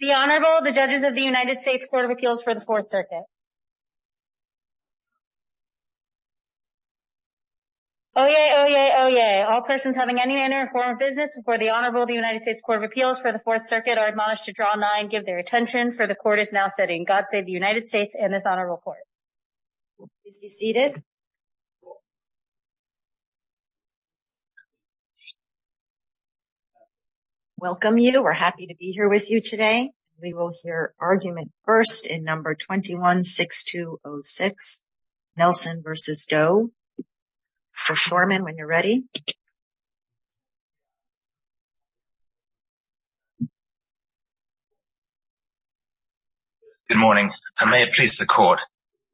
The Honorable, the Judges of the United States Court of Appeals for the Fourth Circuit. Oyez, oyez, oyez, all persons having any manner or form of business before the Honorable of the United States Court of Appeals for the Fourth Circuit are admonished to draw a nine and give their attention, for the Court is now sitting. God save the United States and this Honorable Court. Please be seated. Welcome you. We're happy to be here with you today. We will hear argument first in number 21-6206, Nelson v. Doe. Mr. Shorman, when you're ready. Good morning, and may it please the Court.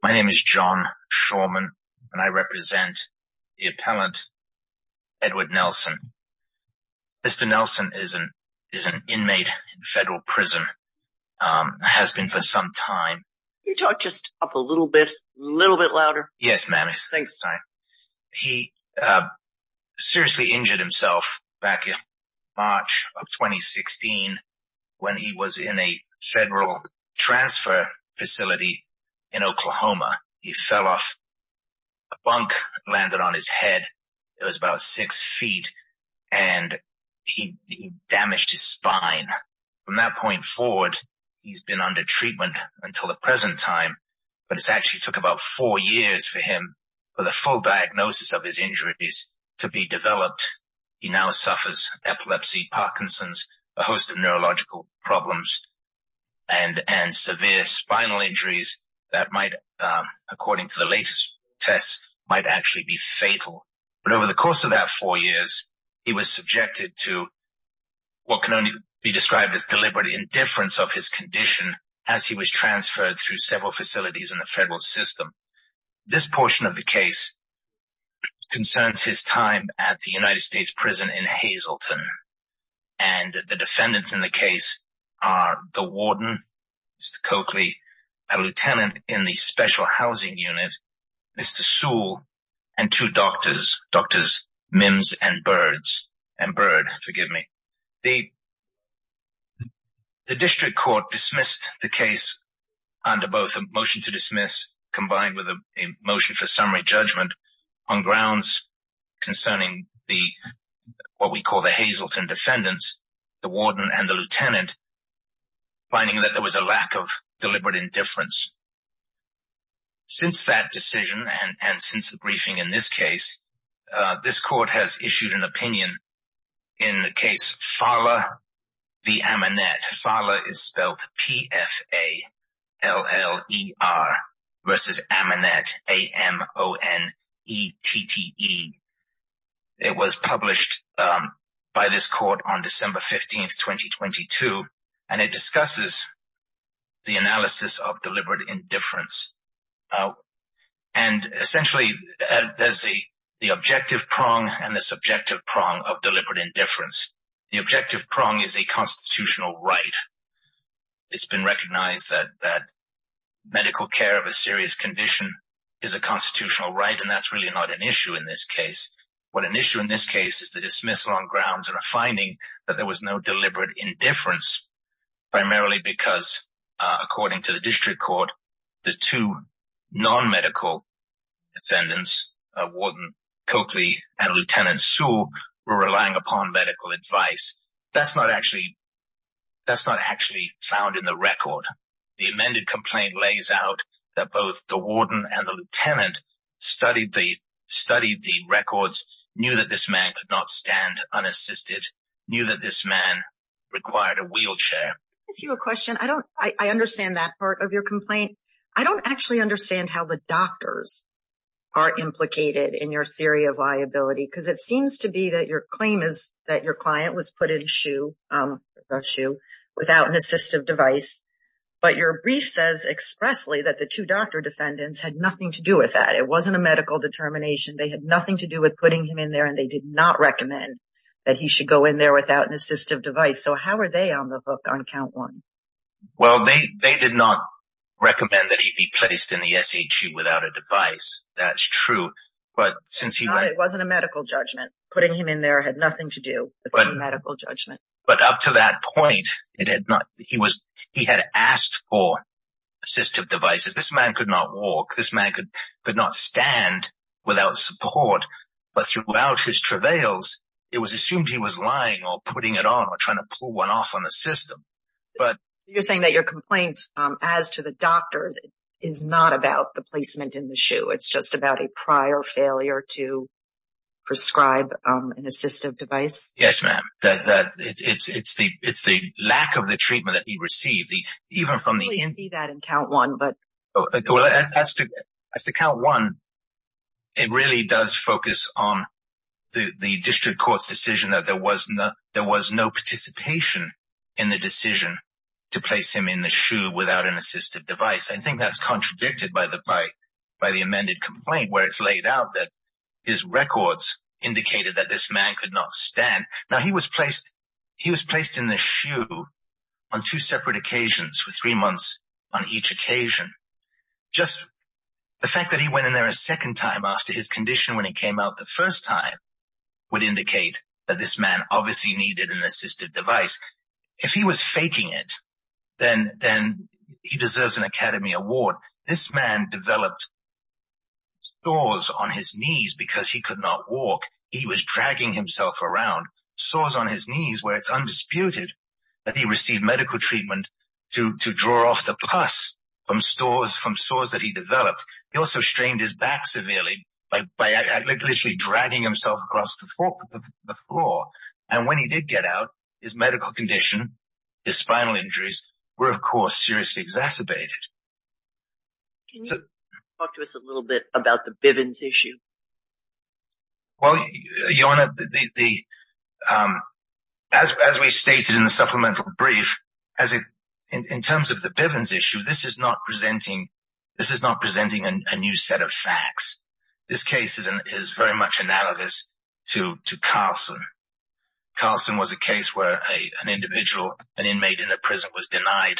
My name is John Shorman, and I represent the appellant, Edward Nelson. Mr. Nelson is an inmate in federal prison, has been for some time. Can you talk just up a little bit, a little bit louder? Yes, ma'am. Thanks. He seriously injured himself back in March of 2016 when he was in a federal transfer facility in Oklahoma. He fell off a bunk, landed on his head. It was about six feet, and he damaged his spine. From that point forward, he's been under treatment until the present time, but it's actually took about four years for him, for the full diagnosis of his injuries to be developed. He now suffers epilepsy, Parkinson's, a host of neurological problems, and severe spinal injuries that might, according to the latest tests, might actually be fatal. But over the course of that four years, he was subjected to what can only be described as deliberate indifference of his condition as he was transferred through several facilities in the federal system. This portion of the case concerns his time at the United States prison in Hazleton, and the defendants in the case are the warden, Mr. Coakley, a lieutenant in the special housing unit, Mr. Sewell, and two doctors, Drs. Mims and Bird. The district court dismissed the case under both a motion to dismiss, combined with a motion for summary judgment, on grounds concerning what we call the Hazleton defendants, the warden and the lieutenant, finding that there was a lack of deliberate indifference. Since that decision and since the briefing in this case, this court has issued an opinion in the case Fala v. Amonette. Fala is spelled P-F-A-L-L-E-R versus Amonette, A-M-O-N-E-T-T-E. It was published by this court on December 15, 2022, and it discusses the analysis of deliberate indifference. Essentially, there is the objective prong and the subjective prong of deliberate indifference. The objective prong is a constitutional right. It has been recognised that medical care of a serious condition is a constitutional right, and that is really not an issue in this case. What is an issue in this case is the dismissal on grounds and a finding that there was no deliberate indifference, primarily because, according to the district court, the two non-medical defendants, Warden Coakley and Lieutenant Sewell, were relying upon medical advice. That is not actually found in the record. The amended complaint lays out that both the warden and the lieutenant studied the records, knew that this man could not stand unassisted, knew that this man required a wheelchair. Let me ask you a question. I understand that part of your complaint. I do not actually understand how the doctors are implicated in your theory of liability, because it seems to be that your claim is that your client was put in a shoe without an assistive device, but your brief says expressly that the two doctor defendants had nothing to do with that. It was not a medical determination. They had nothing to do with putting him in there, and they did not recommend that he should go in there without an assistive device. How are they on the book on count one? They did not recommend that he be placed in the SHU without a device. That is true. It was not a medical judgment. Putting him in there had nothing to do with a medical judgment. But up to that point, he had asked for assistive devices. This man could not walk. This man could not stand without support. But throughout his travails, it was assumed he was lying or putting it on or trying to pull one off on the system. You are saying that your complaint as to the doctors is not about the placement in the SHU. It is just about a prior failure to prescribe an assistive device? Yes, ma'am. It is the lack of the treatment that he received. We will see that in count one. As to count one, it really does focus on the district court's decision that there was no participation in the decision to place him in the SHU without an assistive device. I think that is contradicted by the amended complaint where it is laid out that his records indicated that this man could not stand. Now, he was placed in the SHU on two separate occasions with three months on each occasion. Just the fact that he went in there a second time after his condition when he came out the first time would indicate that this man obviously needed an assistive device. If he was faking it, then he deserves an Academy Award. This man developed sores on his knees because he could not walk. He was dragging himself around, sores on his knees where it is undisputed that he received medical treatment to draw off the pus from sores that he developed. He also strained his back severely by literally dragging himself across the floor. When he did get out, his medical condition and spinal injuries were, of course, seriously exacerbated. Can you talk to us a little bit about the Bivens issue? As we stated in the supplemental brief, in terms of the Bivens issue, this is not presenting a new set of facts. This case is very much analogous to Carlson. Carlson was a case where an individual, an inmate in a prison, was denied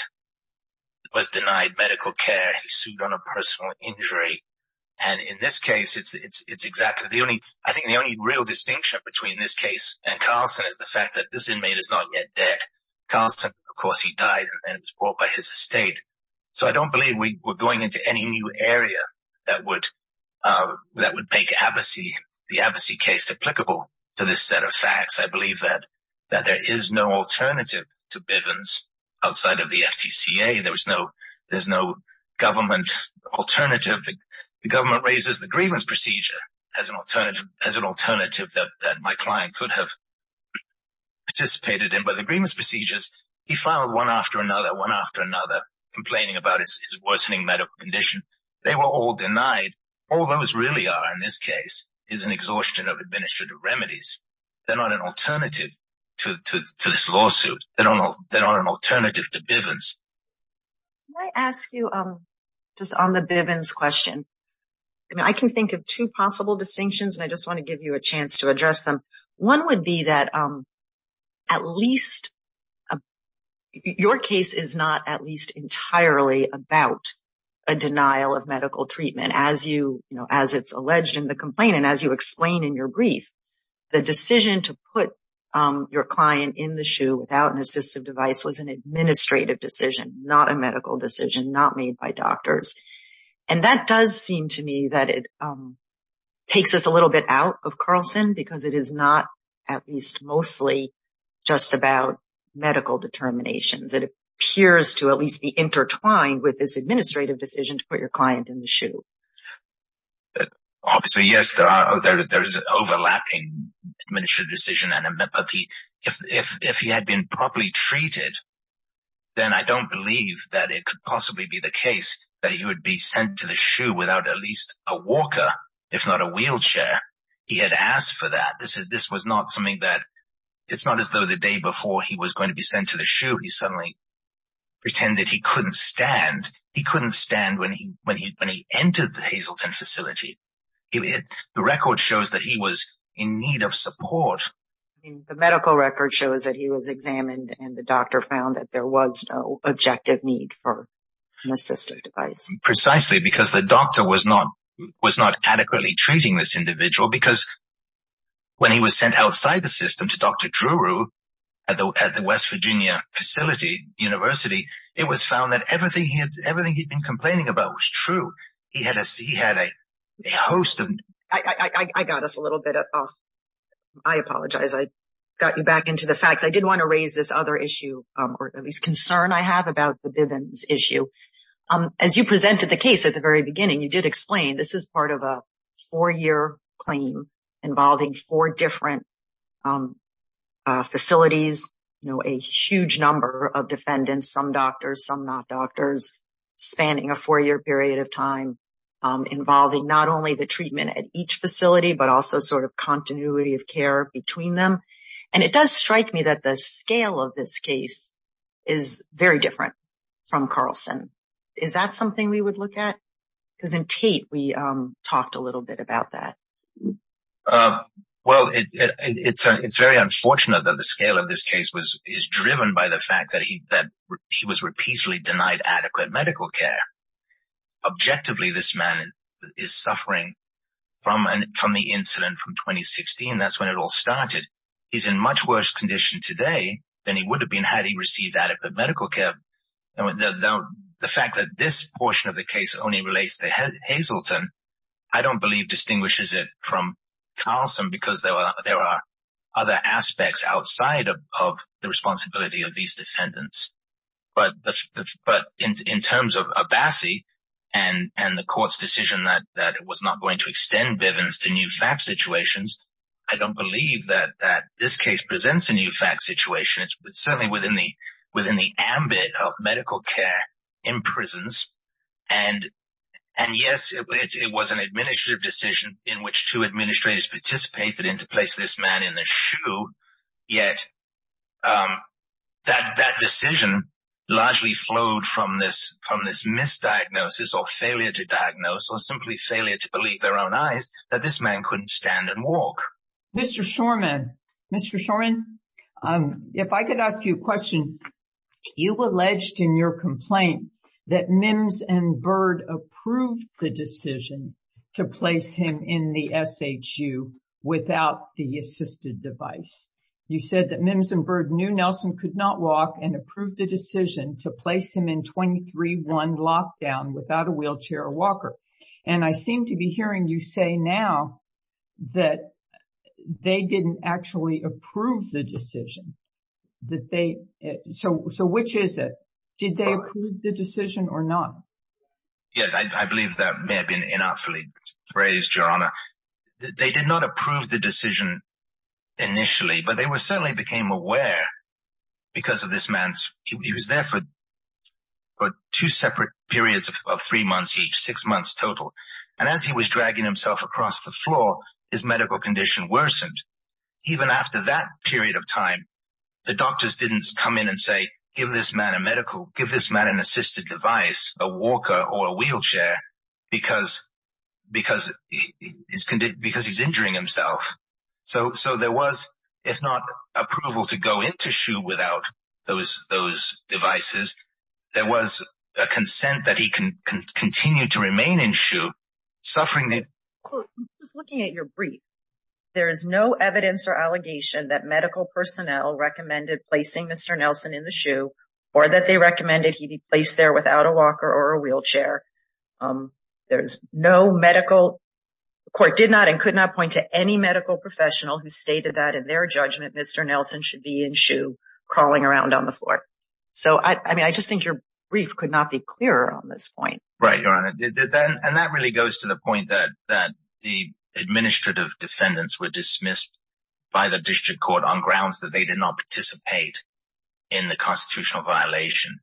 medical care. He sued on a personal injury. In this case, I think the only real distinction between this case and Carlson is the fact that this inmate is not yet dead. Carlson, of course, he died and was brought by his estate. I do not believe we are going into any new area that would make the Abbassey case applicable to this set of facts. I believe that there is no alternative to Bivens outside of the FTCA. There is no government alternative. The government raises the grievance procedure as an alternative that my client could have participated in. He filed one after another, one after another, complaining about his worsening medical condition. They were all denied. All those really are, in this case, is an exhaustion of administrative remedies. They are not an alternative to this lawsuit. They are not an alternative to Bivens. Can I ask you on the Bivens question? I can think of two possible distinctions, and I just want to give you a chance to address them. One would be that your case is not at least entirely about a denial of medical treatment. As it is alleged in the complaint and as you explain in your brief, the decision to put your client in the shoe without an assistive device was an administrative decision, not a medical decision, not made by doctors. That does seem to me that it takes us a little bit out of Carlson, because it is not at least mostly just about medical determinations. It appears to at least be intertwined with this administrative decision to put your client in the shoe. Obviously, yes, there is an overlapping administrative decision. If he had been properly treated, then I do not believe that it could possibly be the case that he would be sent to the shoe without at least a walker, if not a wheelchair. He had asked for that. It is not as though the day before he was going to be sent to the shoe, he suddenly pretended he could not stand. He could not stand when he entered the Hazleton facility. The record shows that he was in need of support. The medical record shows that he was examined and the doctor found that there was no objective need for an assistive device. Precisely, because the doctor was not adequately treating this individual, because when he was sent outside the system to Dr. Drew at the West Virginia facility, university, it was found that everything he had been complaining about was true. He had a host of… I got us a little bit off. I apologize. I got you back into the facts. I did want to raise this other issue or at least concern I have about the Bivens issue. As you presented the case at the very beginning, you did explain this is part of a four-year claim involving four different facilities, a huge number of defendants, some doctors, some not doctors, spanning a four-year period of time involving not only the treatment at each facility but also sort of continuity of care between them. And it does strike me that the scale of this case is very different from Carlson. Is that something we would look at? Because in Tate, we talked a little bit about that. Well, it's very unfortunate that the scale of this case is driven by the fact that he was repeatedly denied adequate medical care. Objectively, this man is suffering from the incident from 2016. That's when it all started. He's in much worse condition today than he would have been had he received adequate medical care. The fact that this portion of the case only relates to Hazleton, I don't believe distinguishes it from Carlson because there are other aspects outside of the responsibility of these defendants. But in terms of Abassi and the court's decision that it was not going to extend Bivens to new fact situations, I don't believe that this case presents a new fact situation. It's certainly within the ambit of medical care in prisons. And, yes, it was an administrative decision in which two administrators participated in to place this man in the shoe. Yet that decision largely flowed from this misdiagnosis or failure to diagnose or simply failure to believe their own eyes that this man couldn't stand and walk. Mr. Shorman, Mr. Shorman, if I could ask you a question, you alleged in your complaint that Mims and Bird approved the decision to place him in the S.H.U. without the assisted device. You said that Mims and Bird knew Nelson could not walk and approved the decision to place him in twenty three one lockdown without a wheelchair or walker. And I seem to be hearing you say now that they didn't actually approve the decision that they so. So which is it? Did they approve the decision or not? Yes, I believe that may have been inartfully raised, Your Honor. They did not approve the decision initially, but they were certainly became aware because of this man's. He was there for two separate periods of three months, six months total. And as he was dragging himself across the floor, his medical condition worsened. Even after that period of time, the doctors didn't come in and say, give this man a medical, give this man an assisted device, a walker or a wheelchair because because he's because he's injuring himself. So so there was, if not approval to go into S.H.U. without those those devices. There was a consent that he can continue to remain in S.H.U. suffering. Just looking at your brief, there is no evidence or allegation that medical personnel recommended placing Mr. Nelson in the S.H.U. or that they recommended he be placed there without a walker or a wheelchair. There's no medical court did not and could not point to any medical professional who stated that in their judgment, Mr. Nelson should be in S.H.U. crawling around on the floor. So, I mean, I just think your brief could not be clearer on this point. Right, Your Honor. And that really goes to the point that that the administrative defendants were dismissed by the district court on grounds that they did not participate in the constitutional violation.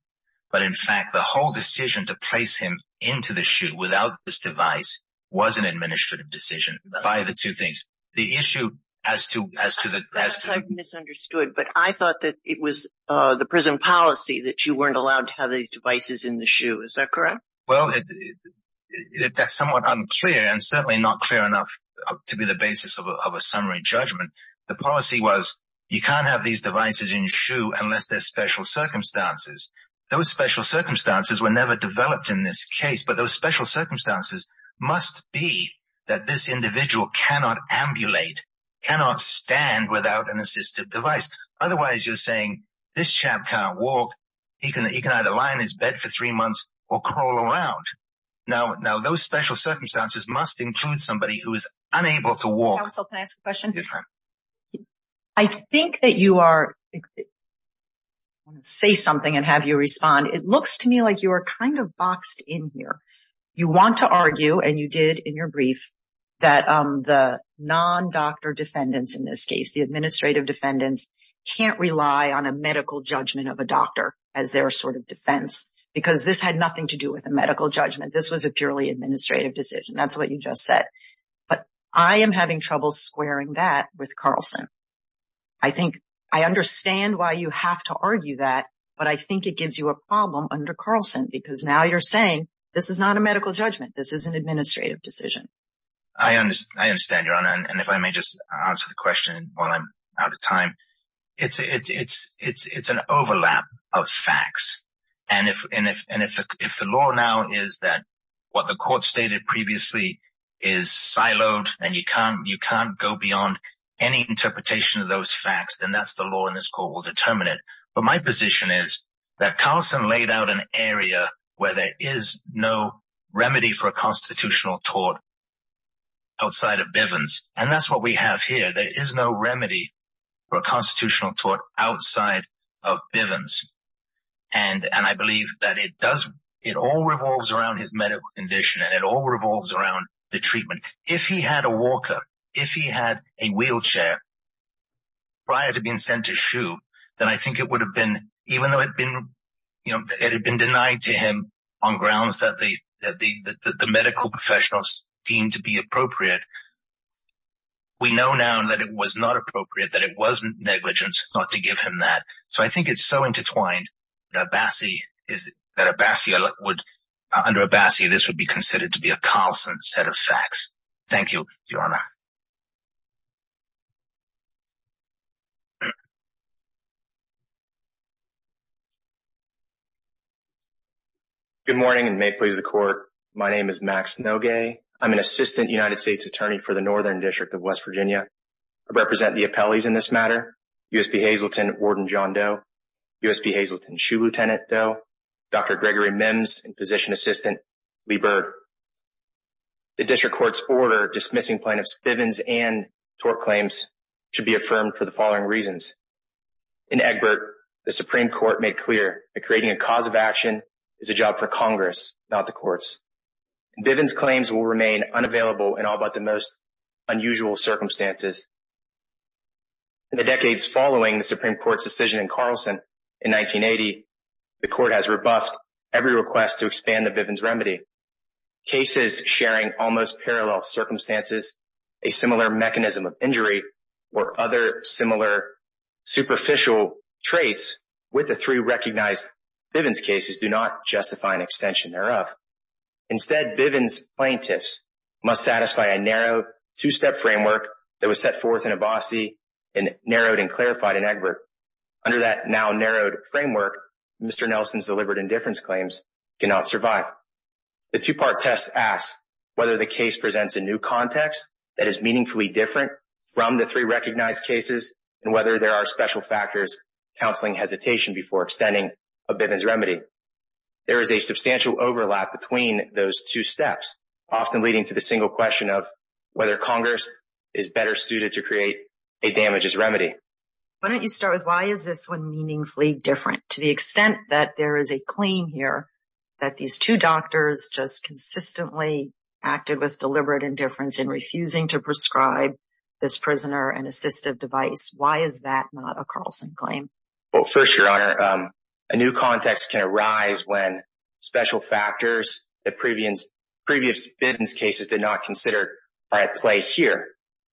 But in fact, the whole decision to place him into the S.H.U. without this device was an administrative decision by the two things. The issue as to as to the as to misunderstood. But I thought that it was the prison policy that you weren't allowed to have these devices in the S.H.U. Is that correct? Well, that's somewhat unclear and certainly not clear enough to be the basis of a summary judgment. The policy was you can't have these devices in S.H.U. unless there's special circumstances. Those special circumstances were never developed in this case. But those special circumstances must be that this individual cannot ambulate, cannot stand without an assistive device. Otherwise, you're saying this chap can't walk. He can he can either lie in his bed for three months or crawl around. Now, those special circumstances must include somebody who is unable to walk. Can I ask a question? I think that you are. Say something and have you respond. It looks to me like you are kind of boxed in here. You want to argue and you did in your brief that the non doctor defendants in this case, the administrative defendants can't rely on a medical judgment of a doctor as their sort of defense, because this had nothing to do with a medical judgment. This was a purely administrative decision. That's what you just said. But I am having trouble squaring that with Carlson. I think I understand why you have to argue that. But I think it gives you a problem under Carlson, because now you're saying this is not a medical judgment. This is an administrative decision. I understand. And if I may just answer the question while I'm out of time, it's it's it's it's it's an overlap of facts. And if and if and if the law now is that what the court stated previously is siloed and you can't you can't go beyond any interpretation of those facts, then that's the law in this court will determine it. But my position is that Carlson laid out an area where there is no remedy for a constitutional tort outside of Bivens. And that's what we have here. There is no remedy for a constitutional tort outside of Bivens. And and I believe that it does. It all revolves around his medical condition and it all revolves around the treatment. If he had a walker, if he had a wheelchair. Prior to being sent to shoe, then I think it would have been even though it had been, you know, it had been denied to him on grounds that the that the medical professionals deemed to be appropriate. We know now that it was not appropriate, that it wasn't negligence not to give him that. So I think it's so intertwined that Abassi is that Abassi would under Abassi, this would be considered to be a constant set of facts. Thank you, Your Honor. Good morning and may it please the court. My name is Max Nogue. I'm an assistant United States attorney for the northern district of West Virginia. I represent the appellees in this matter. U.S.P. Hazleton, Warden John Doe. U.S.P. Hazleton, Shoe Lieutenant Doe. Dr. Gregory Mims and position assistant Lee Bird. The district court's order dismissing plaintiffs Bivens and tort claims should be affirmed for the following reasons. In Egbert, the Supreme Court made clear that creating a cause of action is a job for Congress, not the courts. Bivens claims will remain unavailable in all but the most unusual circumstances. In the decades following the Supreme Court's decision in Carlson in 1980, the court has rebuffed every request to expand the Bivens remedy. Cases sharing almost parallel circumstances, a similar mechanism of injury or other similar superficial traits with the three recognized Bivens cases do not justify an extension thereof. Instead, Bivens plaintiffs must satisfy a narrow two-step framework that was set forth in Abbasi and narrowed and clarified in Egbert. Under that now narrowed framework, Mr. Nelson's deliberate indifference claims cannot survive. The two-part test asks whether the case presents a new context that is meaningfully different from the three recognized cases and whether there are special factors, counselling hesitation before extending a Bivens remedy. There is a substantial overlap between those two steps, often leading to the single question of whether Congress is better suited to create a damages remedy. Why don't you start with why is this one meaningfully different to the extent that there is a claim here that these two doctors just consistently acted with deliberate indifference in refusing to prescribe this prisoner an assistive device. Why is that not a Carlson claim? Well, first, Your Honor, a new context can arise when special factors that previous Bivens cases did not consider are at play here.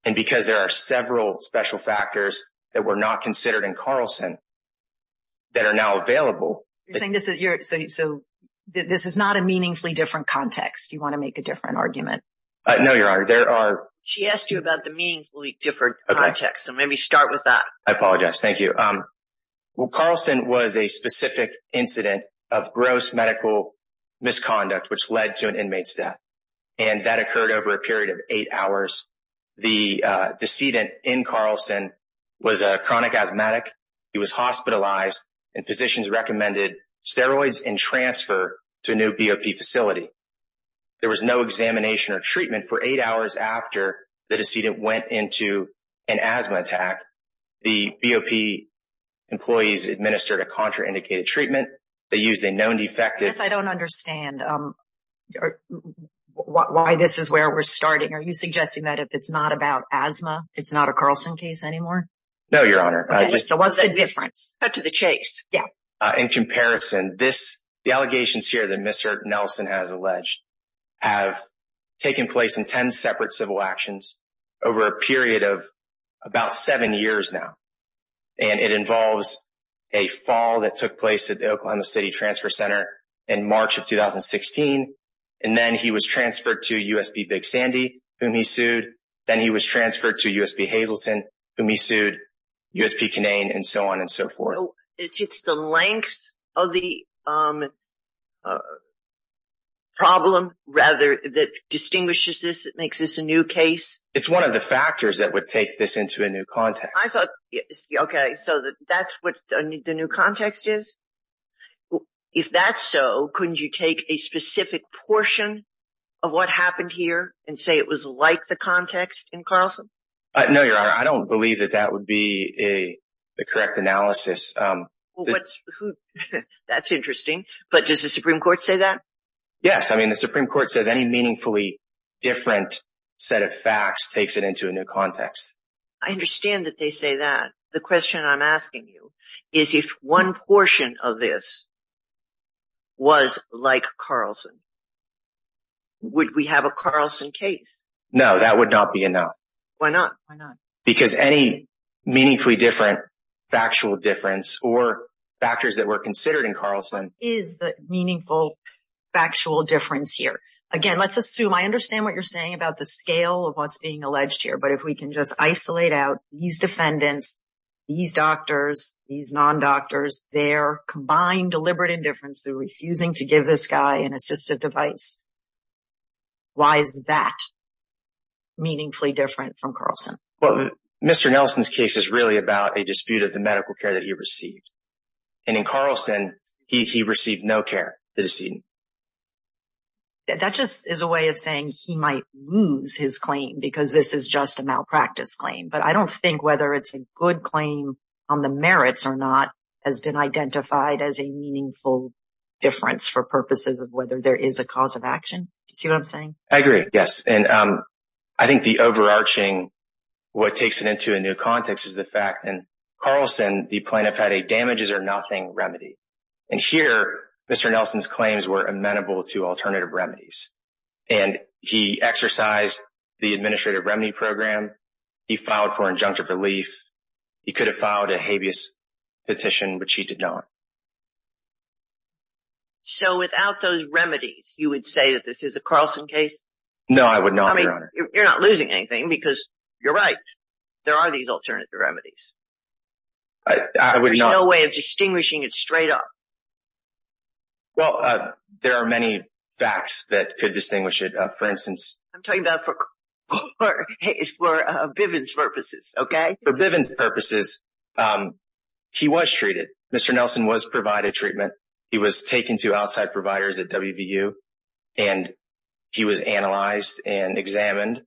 And because there are several special factors that were not considered in Carlson that are now available. You're saying this is not a meaningfully different context. You want to make a different argument? No, Your Honor, there are... She asked you about the meaningfully different context, so maybe start with that. I apologize. Thank you. Well, Carlson was a specific incident of gross medical misconduct, which led to an inmate's death. And that occurred over a period of eight hours. The decedent in Carlson was a chronic asthmatic. He was hospitalized and physicians recommended steroids and transfer to a new BOP facility. There was no examination or treatment for eight hours after the decedent went into an asthma attack. The BOP employees administered a contraindicated treatment. They used a known defective... I guess I don't understand why this is where we're starting. Are you suggesting that if it's not about asthma, it's not a Carlson case anymore? No, Your Honor. So what's the difference? Cut to the chase. Yeah. In comparison, the allegations here that Mr. Nelson has alleged have taken place in 10 separate civil actions over a period of about seven years now. And it involves a fall that took place at the Oklahoma City Transfer Center in March of 2016. And then he was transferred to U.S.B. Big Sandy, whom he sued. Then he was transferred to U.S.B. Hazleton, whom he sued, U.S.B. Kinane, and so on and so forth. So it's the length of the problem, rather, that distinguishes this, that makes this a new case? It's one of the factors that would take this into a new context. Okay. So that's what the new context is? If that's so, couldn't you take a specific portion of what happened here and say it was like the context in Carlson? No, Your Honor. I don't believe that that would be the correct analysis. That's interesting. But does the Supreme Court say that? Yes. I mean, the Supreme Court says any meaningfully different set of facts takes it into a new context. I understand that they say that. The question I'm asking you is if one portion of this was like Carlson, would we have a Carlson case? No, that would not be enough. Why not? Because any meaningfully different factual difference or factors that were considered in Carlson is the meaningful factual difference here. Again, let's assume, I understand what you're saying about the scale of what's being alleged here, but if we can just isolate out these defendants, these doctors, these non-doctors, their combined deliberate indifference through refusing to give this guy an assistive device, why is that meaningfully different from Carlson? Well, Mr. Nelson's case is really about a dispute of the medical care that he received. And in Carlson, he received no care, the decedent. That just is a way of saying he might lose his claim because this is just a malpractice claim. But I don't think whether it's a good claim on the merits or not has been identified as a meaningful difference for purposes of whether there is a cause of action. Do you see what I'm saying? I agree, yes. And I think the overarching, what takes it into a new context is the fact that in Carlson, the plaintiff had a damages or nothing remedy. And here, Mr. Nelson's claims were amenable to alternative remedies. And he exercised the administrative remedy program. He filed for injunctive relief. He could have filed a habeas petition, which he did not. So without those remedies, you would say that this is a Carlson case? No, I would not, Your Honor. I mean, you're not losing anything because you're right. There are these alternative remedies. I would not. There's no way of distinguishing it straight up. Well, there are many facts that could distinguish it. For instance. I'm talking about for Bivens purposes, okay? For Bivens purposes, he was treated. Mr. Nelson was provided treatment. He was taken to outside providers at WVU. And he was analyzed and examined.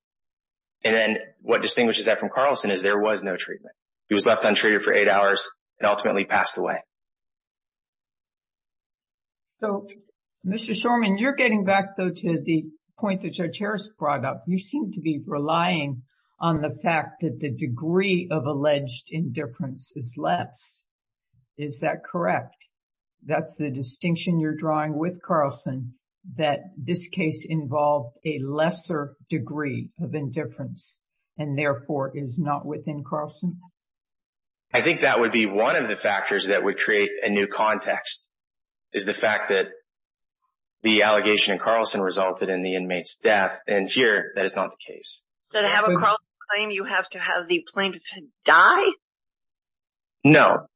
And then what distinguishes that from Carlson is there was no treatment. He was left untreated for eight hours and ultimately passed away. So, Mr. Shorman, you're getting back, though, to the point that Judge Harris brought up. You seem to be relying on the fact that the degree of alleged indifference is less. Is that correct? That's the distinction you're drawing with Carlson, that this case involved a lesser degree of indifference and, therefore, is not within Carlson? I think that would be one of the factors that would create a new context, is the fact that the allegation in Carlson resulted in the inmate's death. And here, that is not the case. So, to have a Carlson claim, you have to have the plaintiff die? No.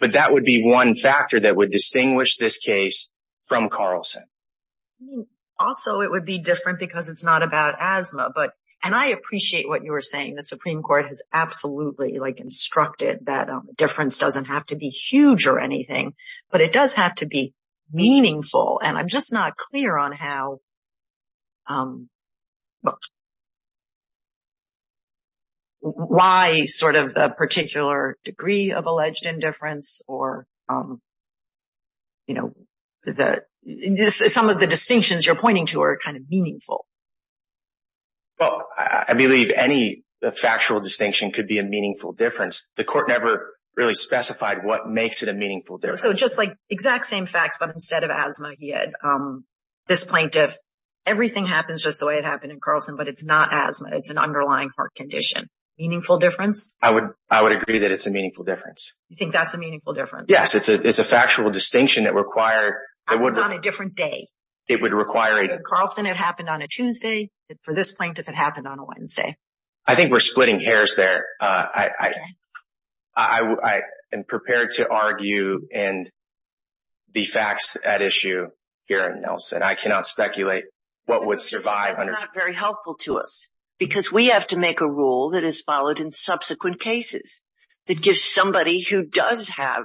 But that would be one factor that would distinguish this case from Carlson. Also, it would be different because it's not about asthma. And I appreciate what you were saying. The Supreme Court has absolutely instructed that difference doesn't have to be huge or anything, but it does have to be meaningful. And I'm just not clear on why sort of the particular degree of alleged indifference or some of the distinctions you're pointing to are kind of meaningful. Well, I believe any factual distinction could be a meaningful difference. The court never really specified what makes it a meaningful difference. So, just like exact same facts, but instead of asthma, he had this plaintiff. Everything happens just the way it happened in Carlson, but it's not asthma. It's an underlying heart condition. Meaningful difference? I would agree that it's a meaningful difference. You think that's a meaningful difference? Yes. It's a factual distinction that required – Happens on a different day. It would require – Carlson, it happened on a Tuesday. For this plaintiff, it happened on a Wednesday. I think we're splitting hairs there. I am prepared to argue the facts at issue here in Nelson. I cannot speculate what would survive under – That's not very helpful to us because we have to make a rule that is followed in subsequent cases that gives somebody who does have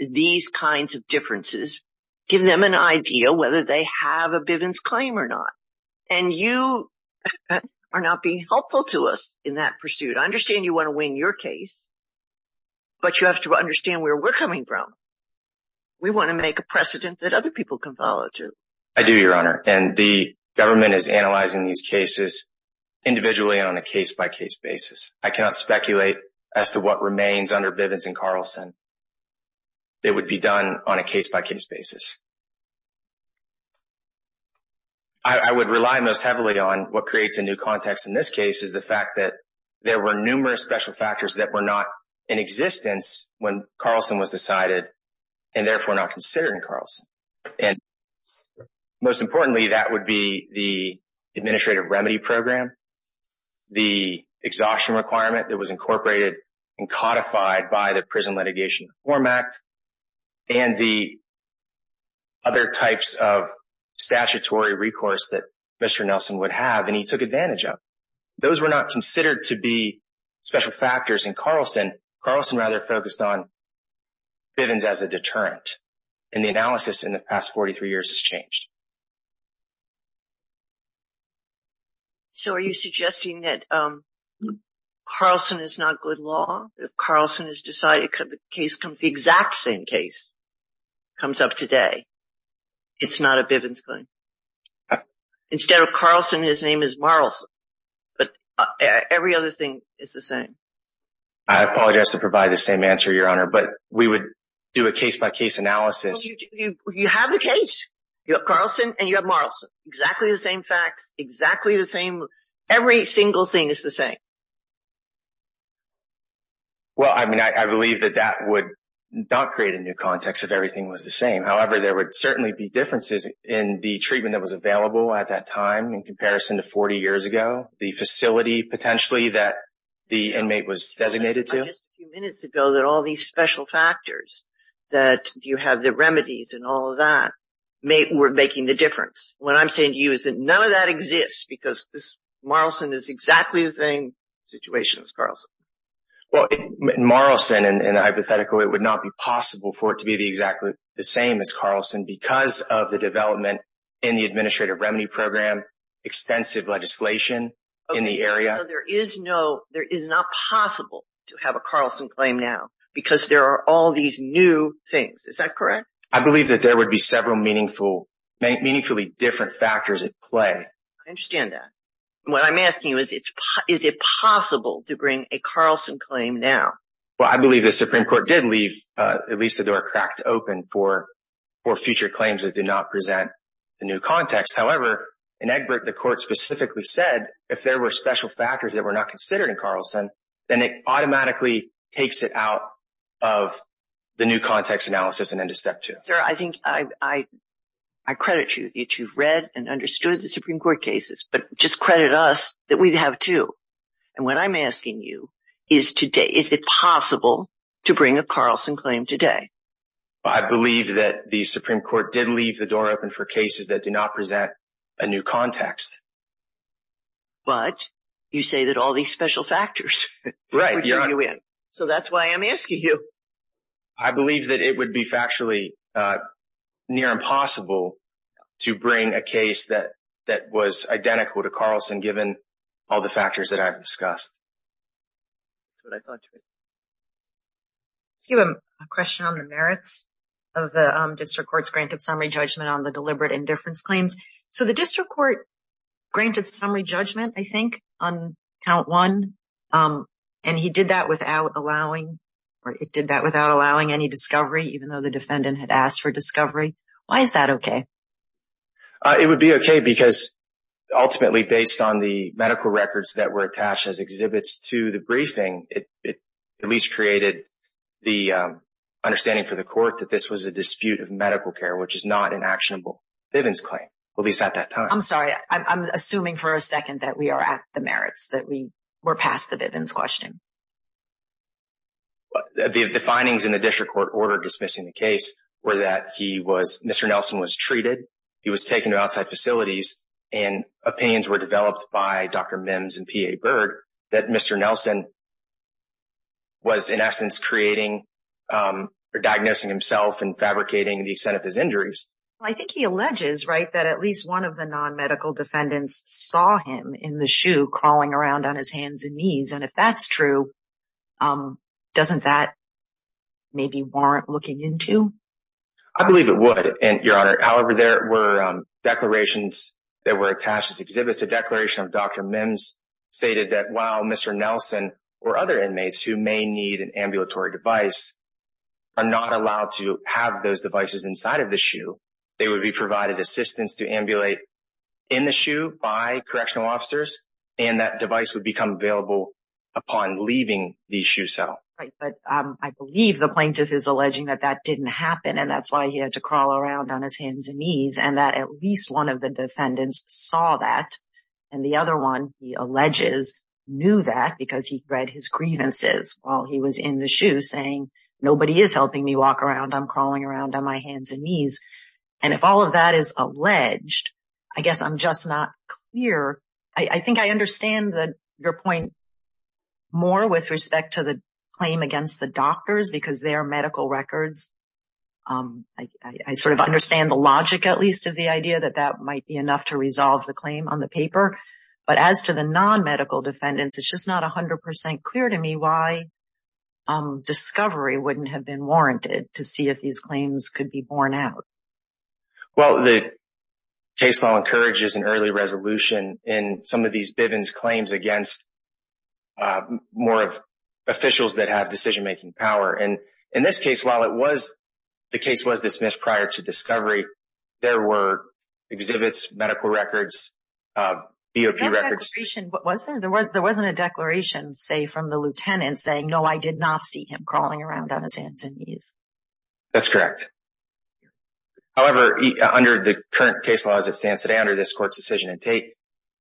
these kinds of differences, give them an idea whether they have a Bivens claim or not. And you are not being helpful to us in that pursuit. I understand you want to win your case, but you have to understand where we're coming from. We want to make a precedent that other people can follow, too. I do, Your Honor, and the government is analyzing these cases individually on a case-by-case basis. I cannot speculate as to what remains under Bivens and Carlson. It would be done on a case-by-case basis. I would rely most heavily on what creates a new context in this case, which is the fact that there were numerous special factors that were not in existence when Carlson was decided and therefore not considered in Carlson. Most importantly, that would be the administrative remedy program, the exhaustion requirement that was incorporated and codified by the Prison Litigation Reform Act, and the other types of statutory recourse that Mr. Nelson would have and he took advantage of. Those were not considered to be special factors in Carlson. Carlson rather focused on Bivens as a deterrent. And the analysis in the past 43 years has changed. So are you suggesting that Carlson is not good law? If Carlson is decided, the exact same case comes up today. It's not a Bivens claim. Instead of Carlson, his name is Marlson. But every other thing is the same. I apologize to provide the same answer, Your Honor, but we would do a case-by-case analysis. You have the case. You have Carlson and you have Marlson. Exactly the same facts. Exactly the same. Every single thing is the same. Well, I mean, I believe that that would not create a new context if everything was the same. However, there would certainly be differences in the treatment that was available at that time in comparison to 40 years ago. The facility potentially that the inmate was designated to. I just a few minutes ago that all these special factors that you have the remedies and all of that were making the difference. What I'm saying to you is that none of that exists because Marlson is exactly the same situation as Carlson. Well, Marlson in a hypothetical, it would not be possible for it to be the exactly the same as Carlson because of the development in the administrative remedy program, extensive legislation in the area. There is no, there is not possible to have a Carlson claim now because there are all these new things. Is that correct? I believe that there would be several meaningful, meaningfully different factors at play. I understand that. What I'm asking you is, is it possible to bring a Carlson claim now? Well, I believe the Supreme Court did leave at least the door cracked open for future claims that do not present the new context. However, in Egbert, the court specifically said if there were special factors that were not considered in Carlson, then it automatically takes it out of the new context analysis and into step two. Well, sir, I think I, I, I credit you that you've read and understood the Supreme Court cases, but just credit us that we'd have to. And what I'm asking you is today, is it possible to bring a Carlson claim today? I believe that the Supreme Court did leave the door open for cases that do not present a new context. But you say that all these special factors. Right. So that's why I'm asking you. I believe that it would be factually near impossible to bring a case that that was identical to Carlson, given all the factors that I've discussed. That's what I thought. Let's give him a question on the merits of the district court's granted summary judgment on the deliberate indifference claims. So the district court granted summary judgment, I think, on count one. And he did that without allowing or it did that without allowing any discovery, even though the defendant had asked for discovery. Why is that OK? It would be OK because ultimately, based on the medical records that were attached as exhibits to the briefing, it at least created the understanding for the court that this was a dispute of medical care, which is not an actionable Bivens claim. Well, he's at that time. I'm sorry. I'm assuming for a second that we are at the merits that we were past the Bivens question. The findings in the district court order dismissing the case were that he was Mr. Nelson was treated. He was taken to outside facilities and opinions were developed by Dr. Mims and P.A. Berg that Mr. Nelson. Was, in essence, creating or diagnosing himself and fabricating the extent of his injuries. I think he alleges right that at least one of the nonmedical defendants saw him in the shoe crawling around on his hands and knees. And if that's true, doesn't that maybe warrant looking into? I believe it would. However, there were declarations that were attached as exhibits. A declaration of Dr. Mims stated that while Mr. Nelson or other inmates who may need an ambulatory device are not allowed to have those devices inside of the shoe, they would be provided assistance to ambulate in the shoe by correctional officers. And that device would become available upon leaving the shoe. So I believe the plaintiff is alleging that that didn't happen. And that's why he had to crawl around on his hands and knees and that at least one of the defendants saw that. And the other one, he alleges, knew that because he read his grievances while he was in the shoe saying, nobody is helping me walk around. I'm crawling around on my hands and knees. And if all of that is alleged, I guess I'm just not clear. I think I understand your point more with respect to the claim against the doctors because they are medical records. I sort of understand the logic, at least, of the idea that that might be enough to resolve the claim on the paper. But as to the non-medical defendants, it's just not 100% clear to me why discovery wouldn't have been warranted to see if these claims could be borne out. Well, the case law encourages an early resolution in some of these Bivens claims against more of officials that have decision-making power. And in this case, while the case was dismissed prior to discovery, there were exhibits, medical records, BOP records. There wasn't a declaration, say, from the lieutenant saying, no, I did not see him crawling around on his hands and knees. That's correct. However, under the current case law as it stands today, under this court's decision to take,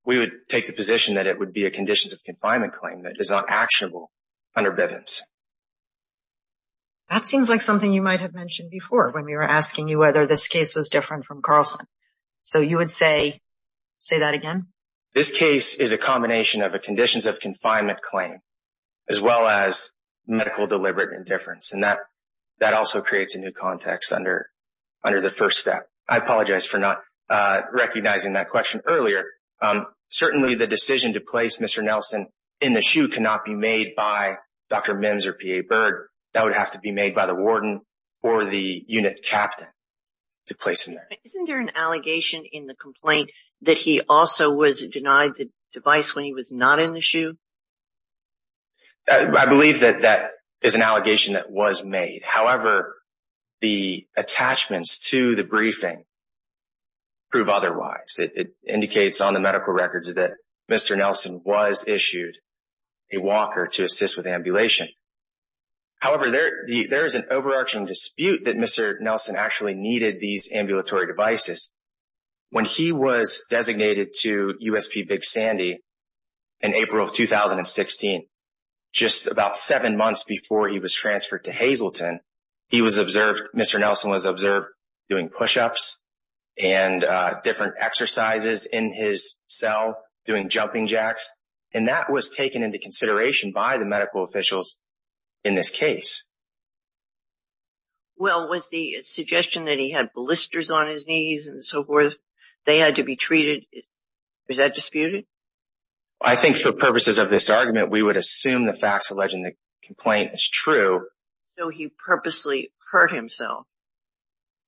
we would take the position that it would be a conditions of confinement claim that is not actionable under Bivens. That seems like something you might have mentioned before when we were asking you whether this case was different from Carlson. So you would say that again? This case is a combination of a conditions of confinement claim as well as medical deliberate indifference. And that also creates a new context under the first step. I apologize for not recognizing that question earlier. Certainly, the decision to place Mr. Nelson in the shoe cannot be made by Dr. Mims or P.A. Byrd. That would have to be made by the warden or the unit captain to place him there. Isn't there an allegation in the complaint that he also was denied the device when he was not in the shoe? I believe that that is an allegation that was made. However, the attachments to the briefing prove otherwise. It indicates on the medical records that Mr. Nelson was issued a walker to assist with ambulation. However, there is an overarching dispute that Mr. Nelson actually needed these ambulatory devices. When he was designated to USP Big Sandy in April of 2016, just about seven months before he was transferred to Hazleton, Mr. Nelson was observed doing push-ups and different exercises in his cell, doing jumping jacks. And that was taken into consideration by the medical officials in this case. Well, was the suggestion that he had blisters on his knees and so forth, they had to be treated, was that disputed? I think for purposes of this argument, we would assume the facts alleged in the complaint is true. So he purposely hurt himself.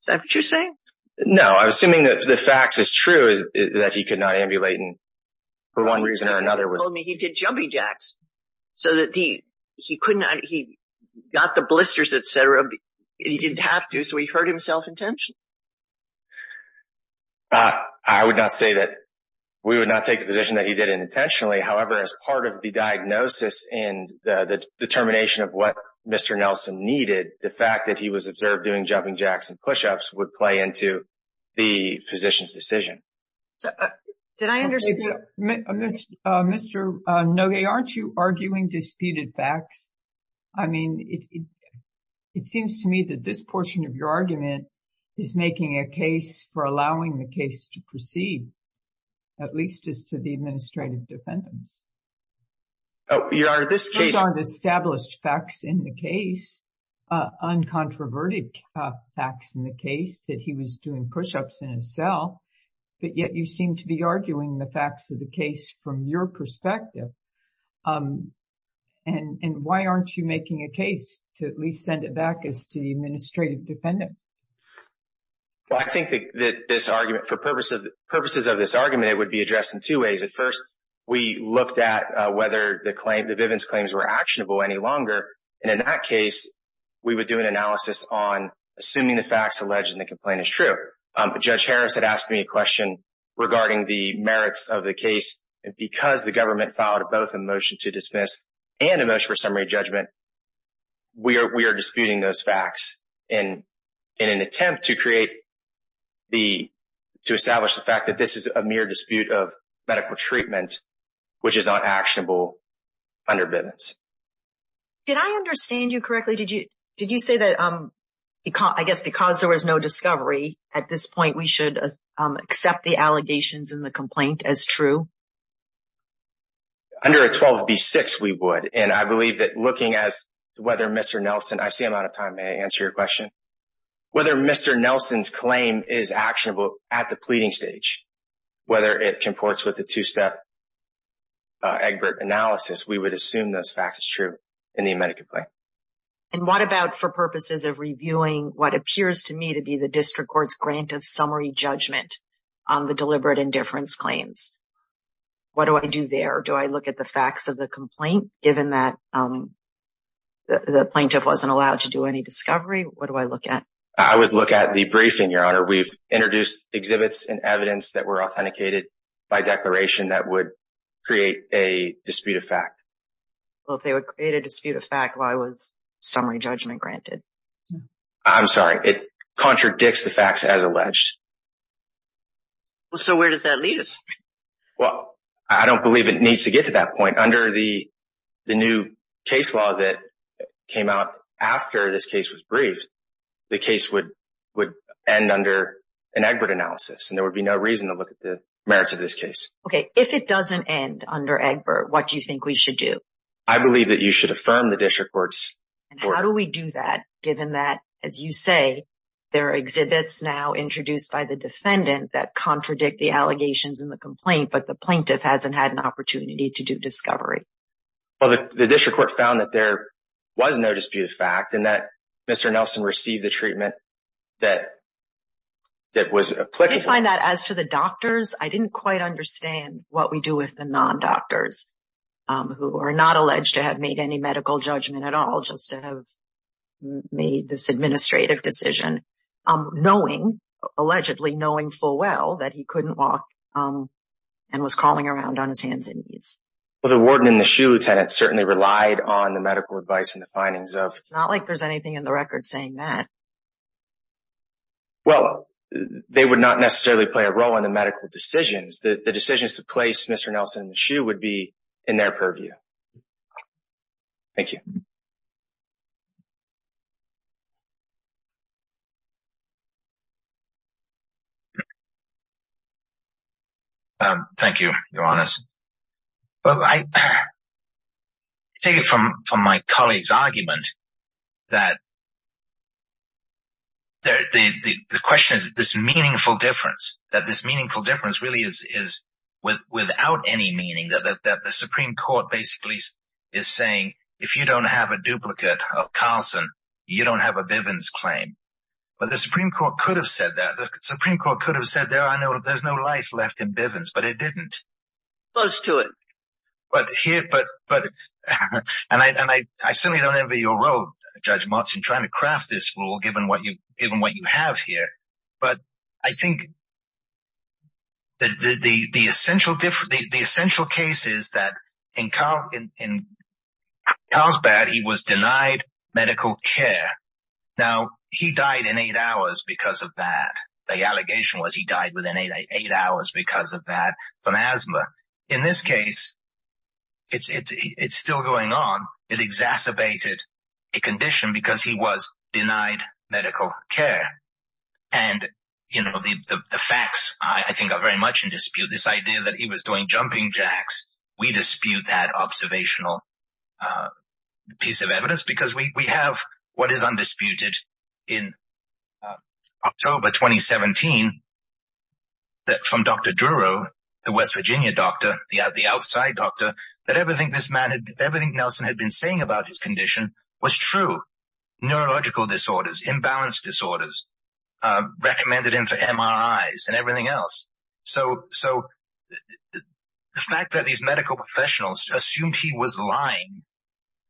Is that what you're saying? No, I'm assuming that the facts is true is that he could not ambulate for one reason or another. You told me he did jumping jacks so that he got the blisters, etc. He didn't have to, so he hurt himself intentionally. I would not say that we would not take the position that he did it intentionally. However, as part of the diagnosis and the determination of what Mr. Nelson needed, the fact that he was observed doing jumping jacks and push-ups would play into the physician's decision. Did I understand? Mr. Nogue, aren't you arguing disputed facts? I mean, it seems to me that this portion of your argument is making a case for allowing the case to proceed, at least as to the administrative defendants. These aren't established facts in the case, uncontroverted facts in the case that he was doing push-ups in his cell. But yet you seem to be arguing the facts of the case from your perspective. And why aren't you making a case to at least send it back as to the administrative defendant? Well, I think that this argument, for purposes of this argument, it would be addressed in two ways. At first, we looked at whether the Vivens claims were actionable any longer. And in that case, we would do an analysis on assuming the facts alleged in the complaint is true. Judge Harris had asked me a question regarding the merits of the case. And because the government filed both a motion to dismiss and a motion for summary judgment, we are disputing those facts in an attempt to establish the fact that this is a mere dispute of medical treatment, which is not actionable under Vivens. Did I understand you correctly? Did you say that I guess because there was no discovery at this point, we should accept the allegations in the complaint as true? Under a 12B6, we would. And I believe that looking as to whether Mr. Nelson, I see I'm out of time. May I answer your question? Whether Mr. Nelson's claim is actionable at the pleading stage, whether it comports with the two-step Egbert analysis, we would assume those facts as true in the amended complaint. And what about for purposes of reviewing what appears to me to be the district court's grant of summary judgment on the deliberate indifference claims? What do I do there? Do I look at the facts of the complaint, given that the plaintiff wasn't allowed to do any discovery? What do I look at? I would look at the briefing, Your Honor. We've introduced exhibits and evidence that were authenticated by declaration that would create a dispute of fact. Well, if they would create a dispute of fact, why was summary judgment granted? I'm sorry. It contradicts the facts as alleged. So where does that lead us? Well, I don't believe it needs to get to that point. Under the new case law that came out after this case was briefed, the case would end under an Egbert analysis, and there would be no reason to look at the merits of this case. Okay. If it doesn't end under Egbert, what do you think we should do? I believe that you should affirm the district court's report. And how do we do that, given that, as you say, there are exhibits now introduced by the defendant that contradict the allegations in the complaint, but the plaintiff hasn't had an opportunity to do discovery? Well, the district court found that there was no dispute of fact and that Mr. Nelson received the treatment that was applicable. I did find that. As to the doctors, I didn't quite understand what we do with the non-doctors who are not alleged to have made any medical judgment at all, made this administrative decision, knowing, allegedly knowing full well, that he couldn't walk and was crawling around on his hands and knees. Well, the warden in the shoe, Lieutenant, certainly relied on the medical advice and the findings of… It's not like there's anything in the record saying that. Well, they would not necessarily play a role in the medical decisions. The decisions to place Mr. Nelson in the shoe would be in their purview. Thank you. Thank you, Your Honours. I take it from my colleague's argument that the question is this meaningful difference, that this meaningful difference really is without any meaning, that the Supreme Court basically is saying, if you don't have a duplicate of Carlson, you don't have a Bivens claim. But the Supreme Court could have said that. The Supreme Court could have said there's no life left in Bivens, but it didn't. Close to it. And I certainly don't envy your role, Judge Martson, trying to craft this rule, given what you have here. But I think the essential case is that in Carlsbad, he was denied medical care. Now, he died in eight hours because of that. The allegation was he died within eight hours because of that from asthma. In this case, it's still going on. It exacerbated a condition because he was denied medical care. And, you know, the facts, I think, are very much in dispute. This idea that he was doing jumping jacks, we dispute that observational piece of evidence because we have what is undisputed in October 2017, that from Dr. Druro, the West Virginia doctor, the outside doctor, that everything Nelson had been saying about his condition was true. Neurological disorders, imbalance disorders, recommended him for MRIs and everything else. So the fact that these medical professionals assumed he was lying,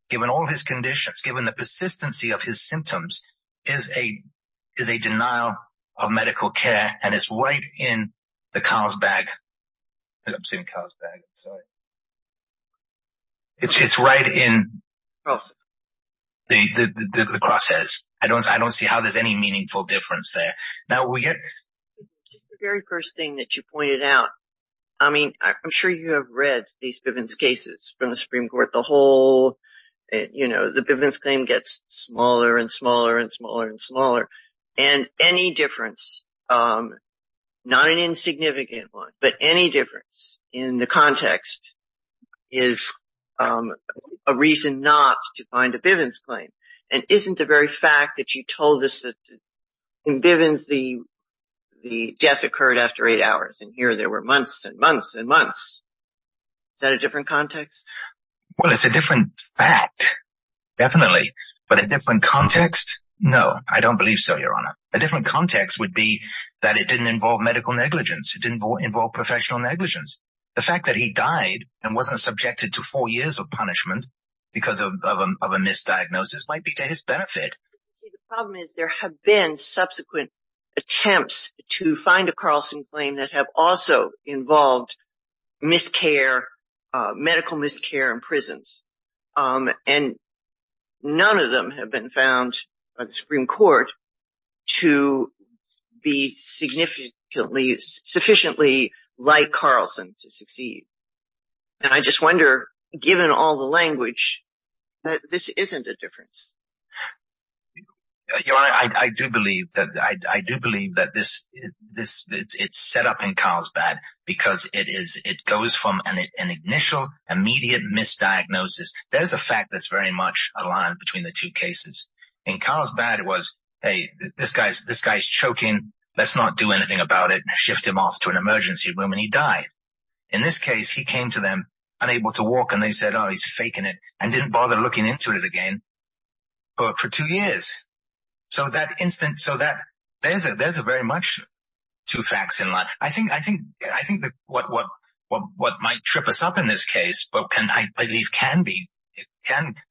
given all his conditions, given the persistency of his symptoms, is a denial of medical care, and it's right in the Carlsbad. I'm saying Carlsbad, sorry. It's right in the crosshairs. I don't see how there's any meaningful difference there. Just the very first thing that you pointed out. I mean, I'm sure you have read these Bivens cases from the Supreme Court. The whole, you know, the Bivens claim gets smaller and smaller and smaller and smaller. And any difference, not an insignificant one, but any difference in the context is a reason not to find a Bivens claim. And isn't the very fact that you told us that in Bivens the death occurred after eight hours, and here there were months and months and months. Is that a different context? Well, it's a different fact, definitely. But a different context, no, I don't believe so, Your Honor. A different context would be that it didn't involve medical negligence. It didn't involve professional negligence. The fact that he died and wasn't subjected to four years of punishment because of a misdiagnosis might be to his benefit. The problem is there have been subsequent attempts to find a Carlson claim that have also involved miscare, medical miscare in prisons, and none of them have been found by the Supreme Court to be sufficiently like Carlson to succeed. And I just wonder, given all the language, that this isn't a difference. Your Honor, I do believe that it's set up in Carlsbad because it goes from an initial, immediate misdiagnosis. There's a fact that's very much aligned between the two cases. In Carlsbad it was, hey, this guy's choking, let's not do anything about it, shift him off to an emergency room, and he died. In this case, he came to them unable to walk, and they said, oh, he's faking it, and didn't bother looking into it again. For two years. So there's very much two facts in line. I think what might trip us up in this case, but I believe can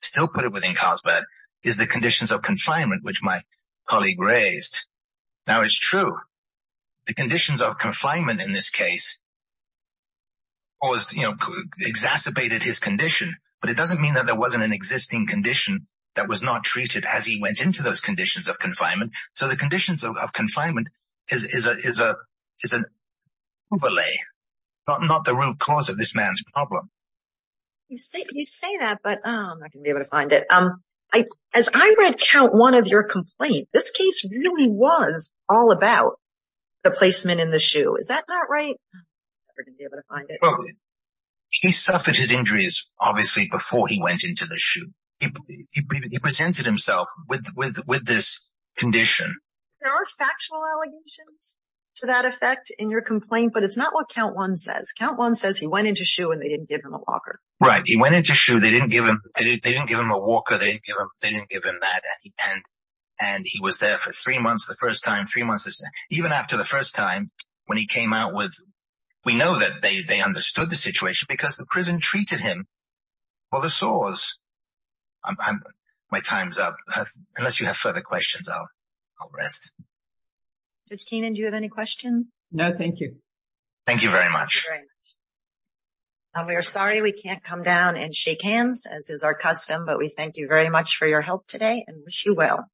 still put it within Carlsbad, is the conditions of confinement, which my colleague raised. Now, it's true. The conditions of confinement in this case exacerbated his condition, but it doesn't mean that there wasn't an existing condition that was not treated as he went into those conditions of confinement. So the conditions of confinement is an overlay, not the root cause of this man's problem. You say that, but I'm not going to be able to find it. As I read count one of your complaint, this case really was all about the placement in the shoe. Is that not right? I'm never going to be able to find it. He suffered his injuries, obviously, before he went into the shoe. He presented himself with this condition. There are factual allegations to that effect in your complaint, but it's not what count one says. Count one says he went into shoe and they didn't give him a walker. Right. He went into shoe. They didn't give him a walker. They didn't give him that. And he was there for three months the first time. Even after the first time, when he came out, we know that they understood the situation because the prison treated him for the sores. My time's up. Unless you have further questions, I'll rest. Judge Keenan, do you have any questions? No, thank you. Thank you very much. We are sorry we can't come down and shake hands, as is our custom, but we thank you very much for your help today and wish you well.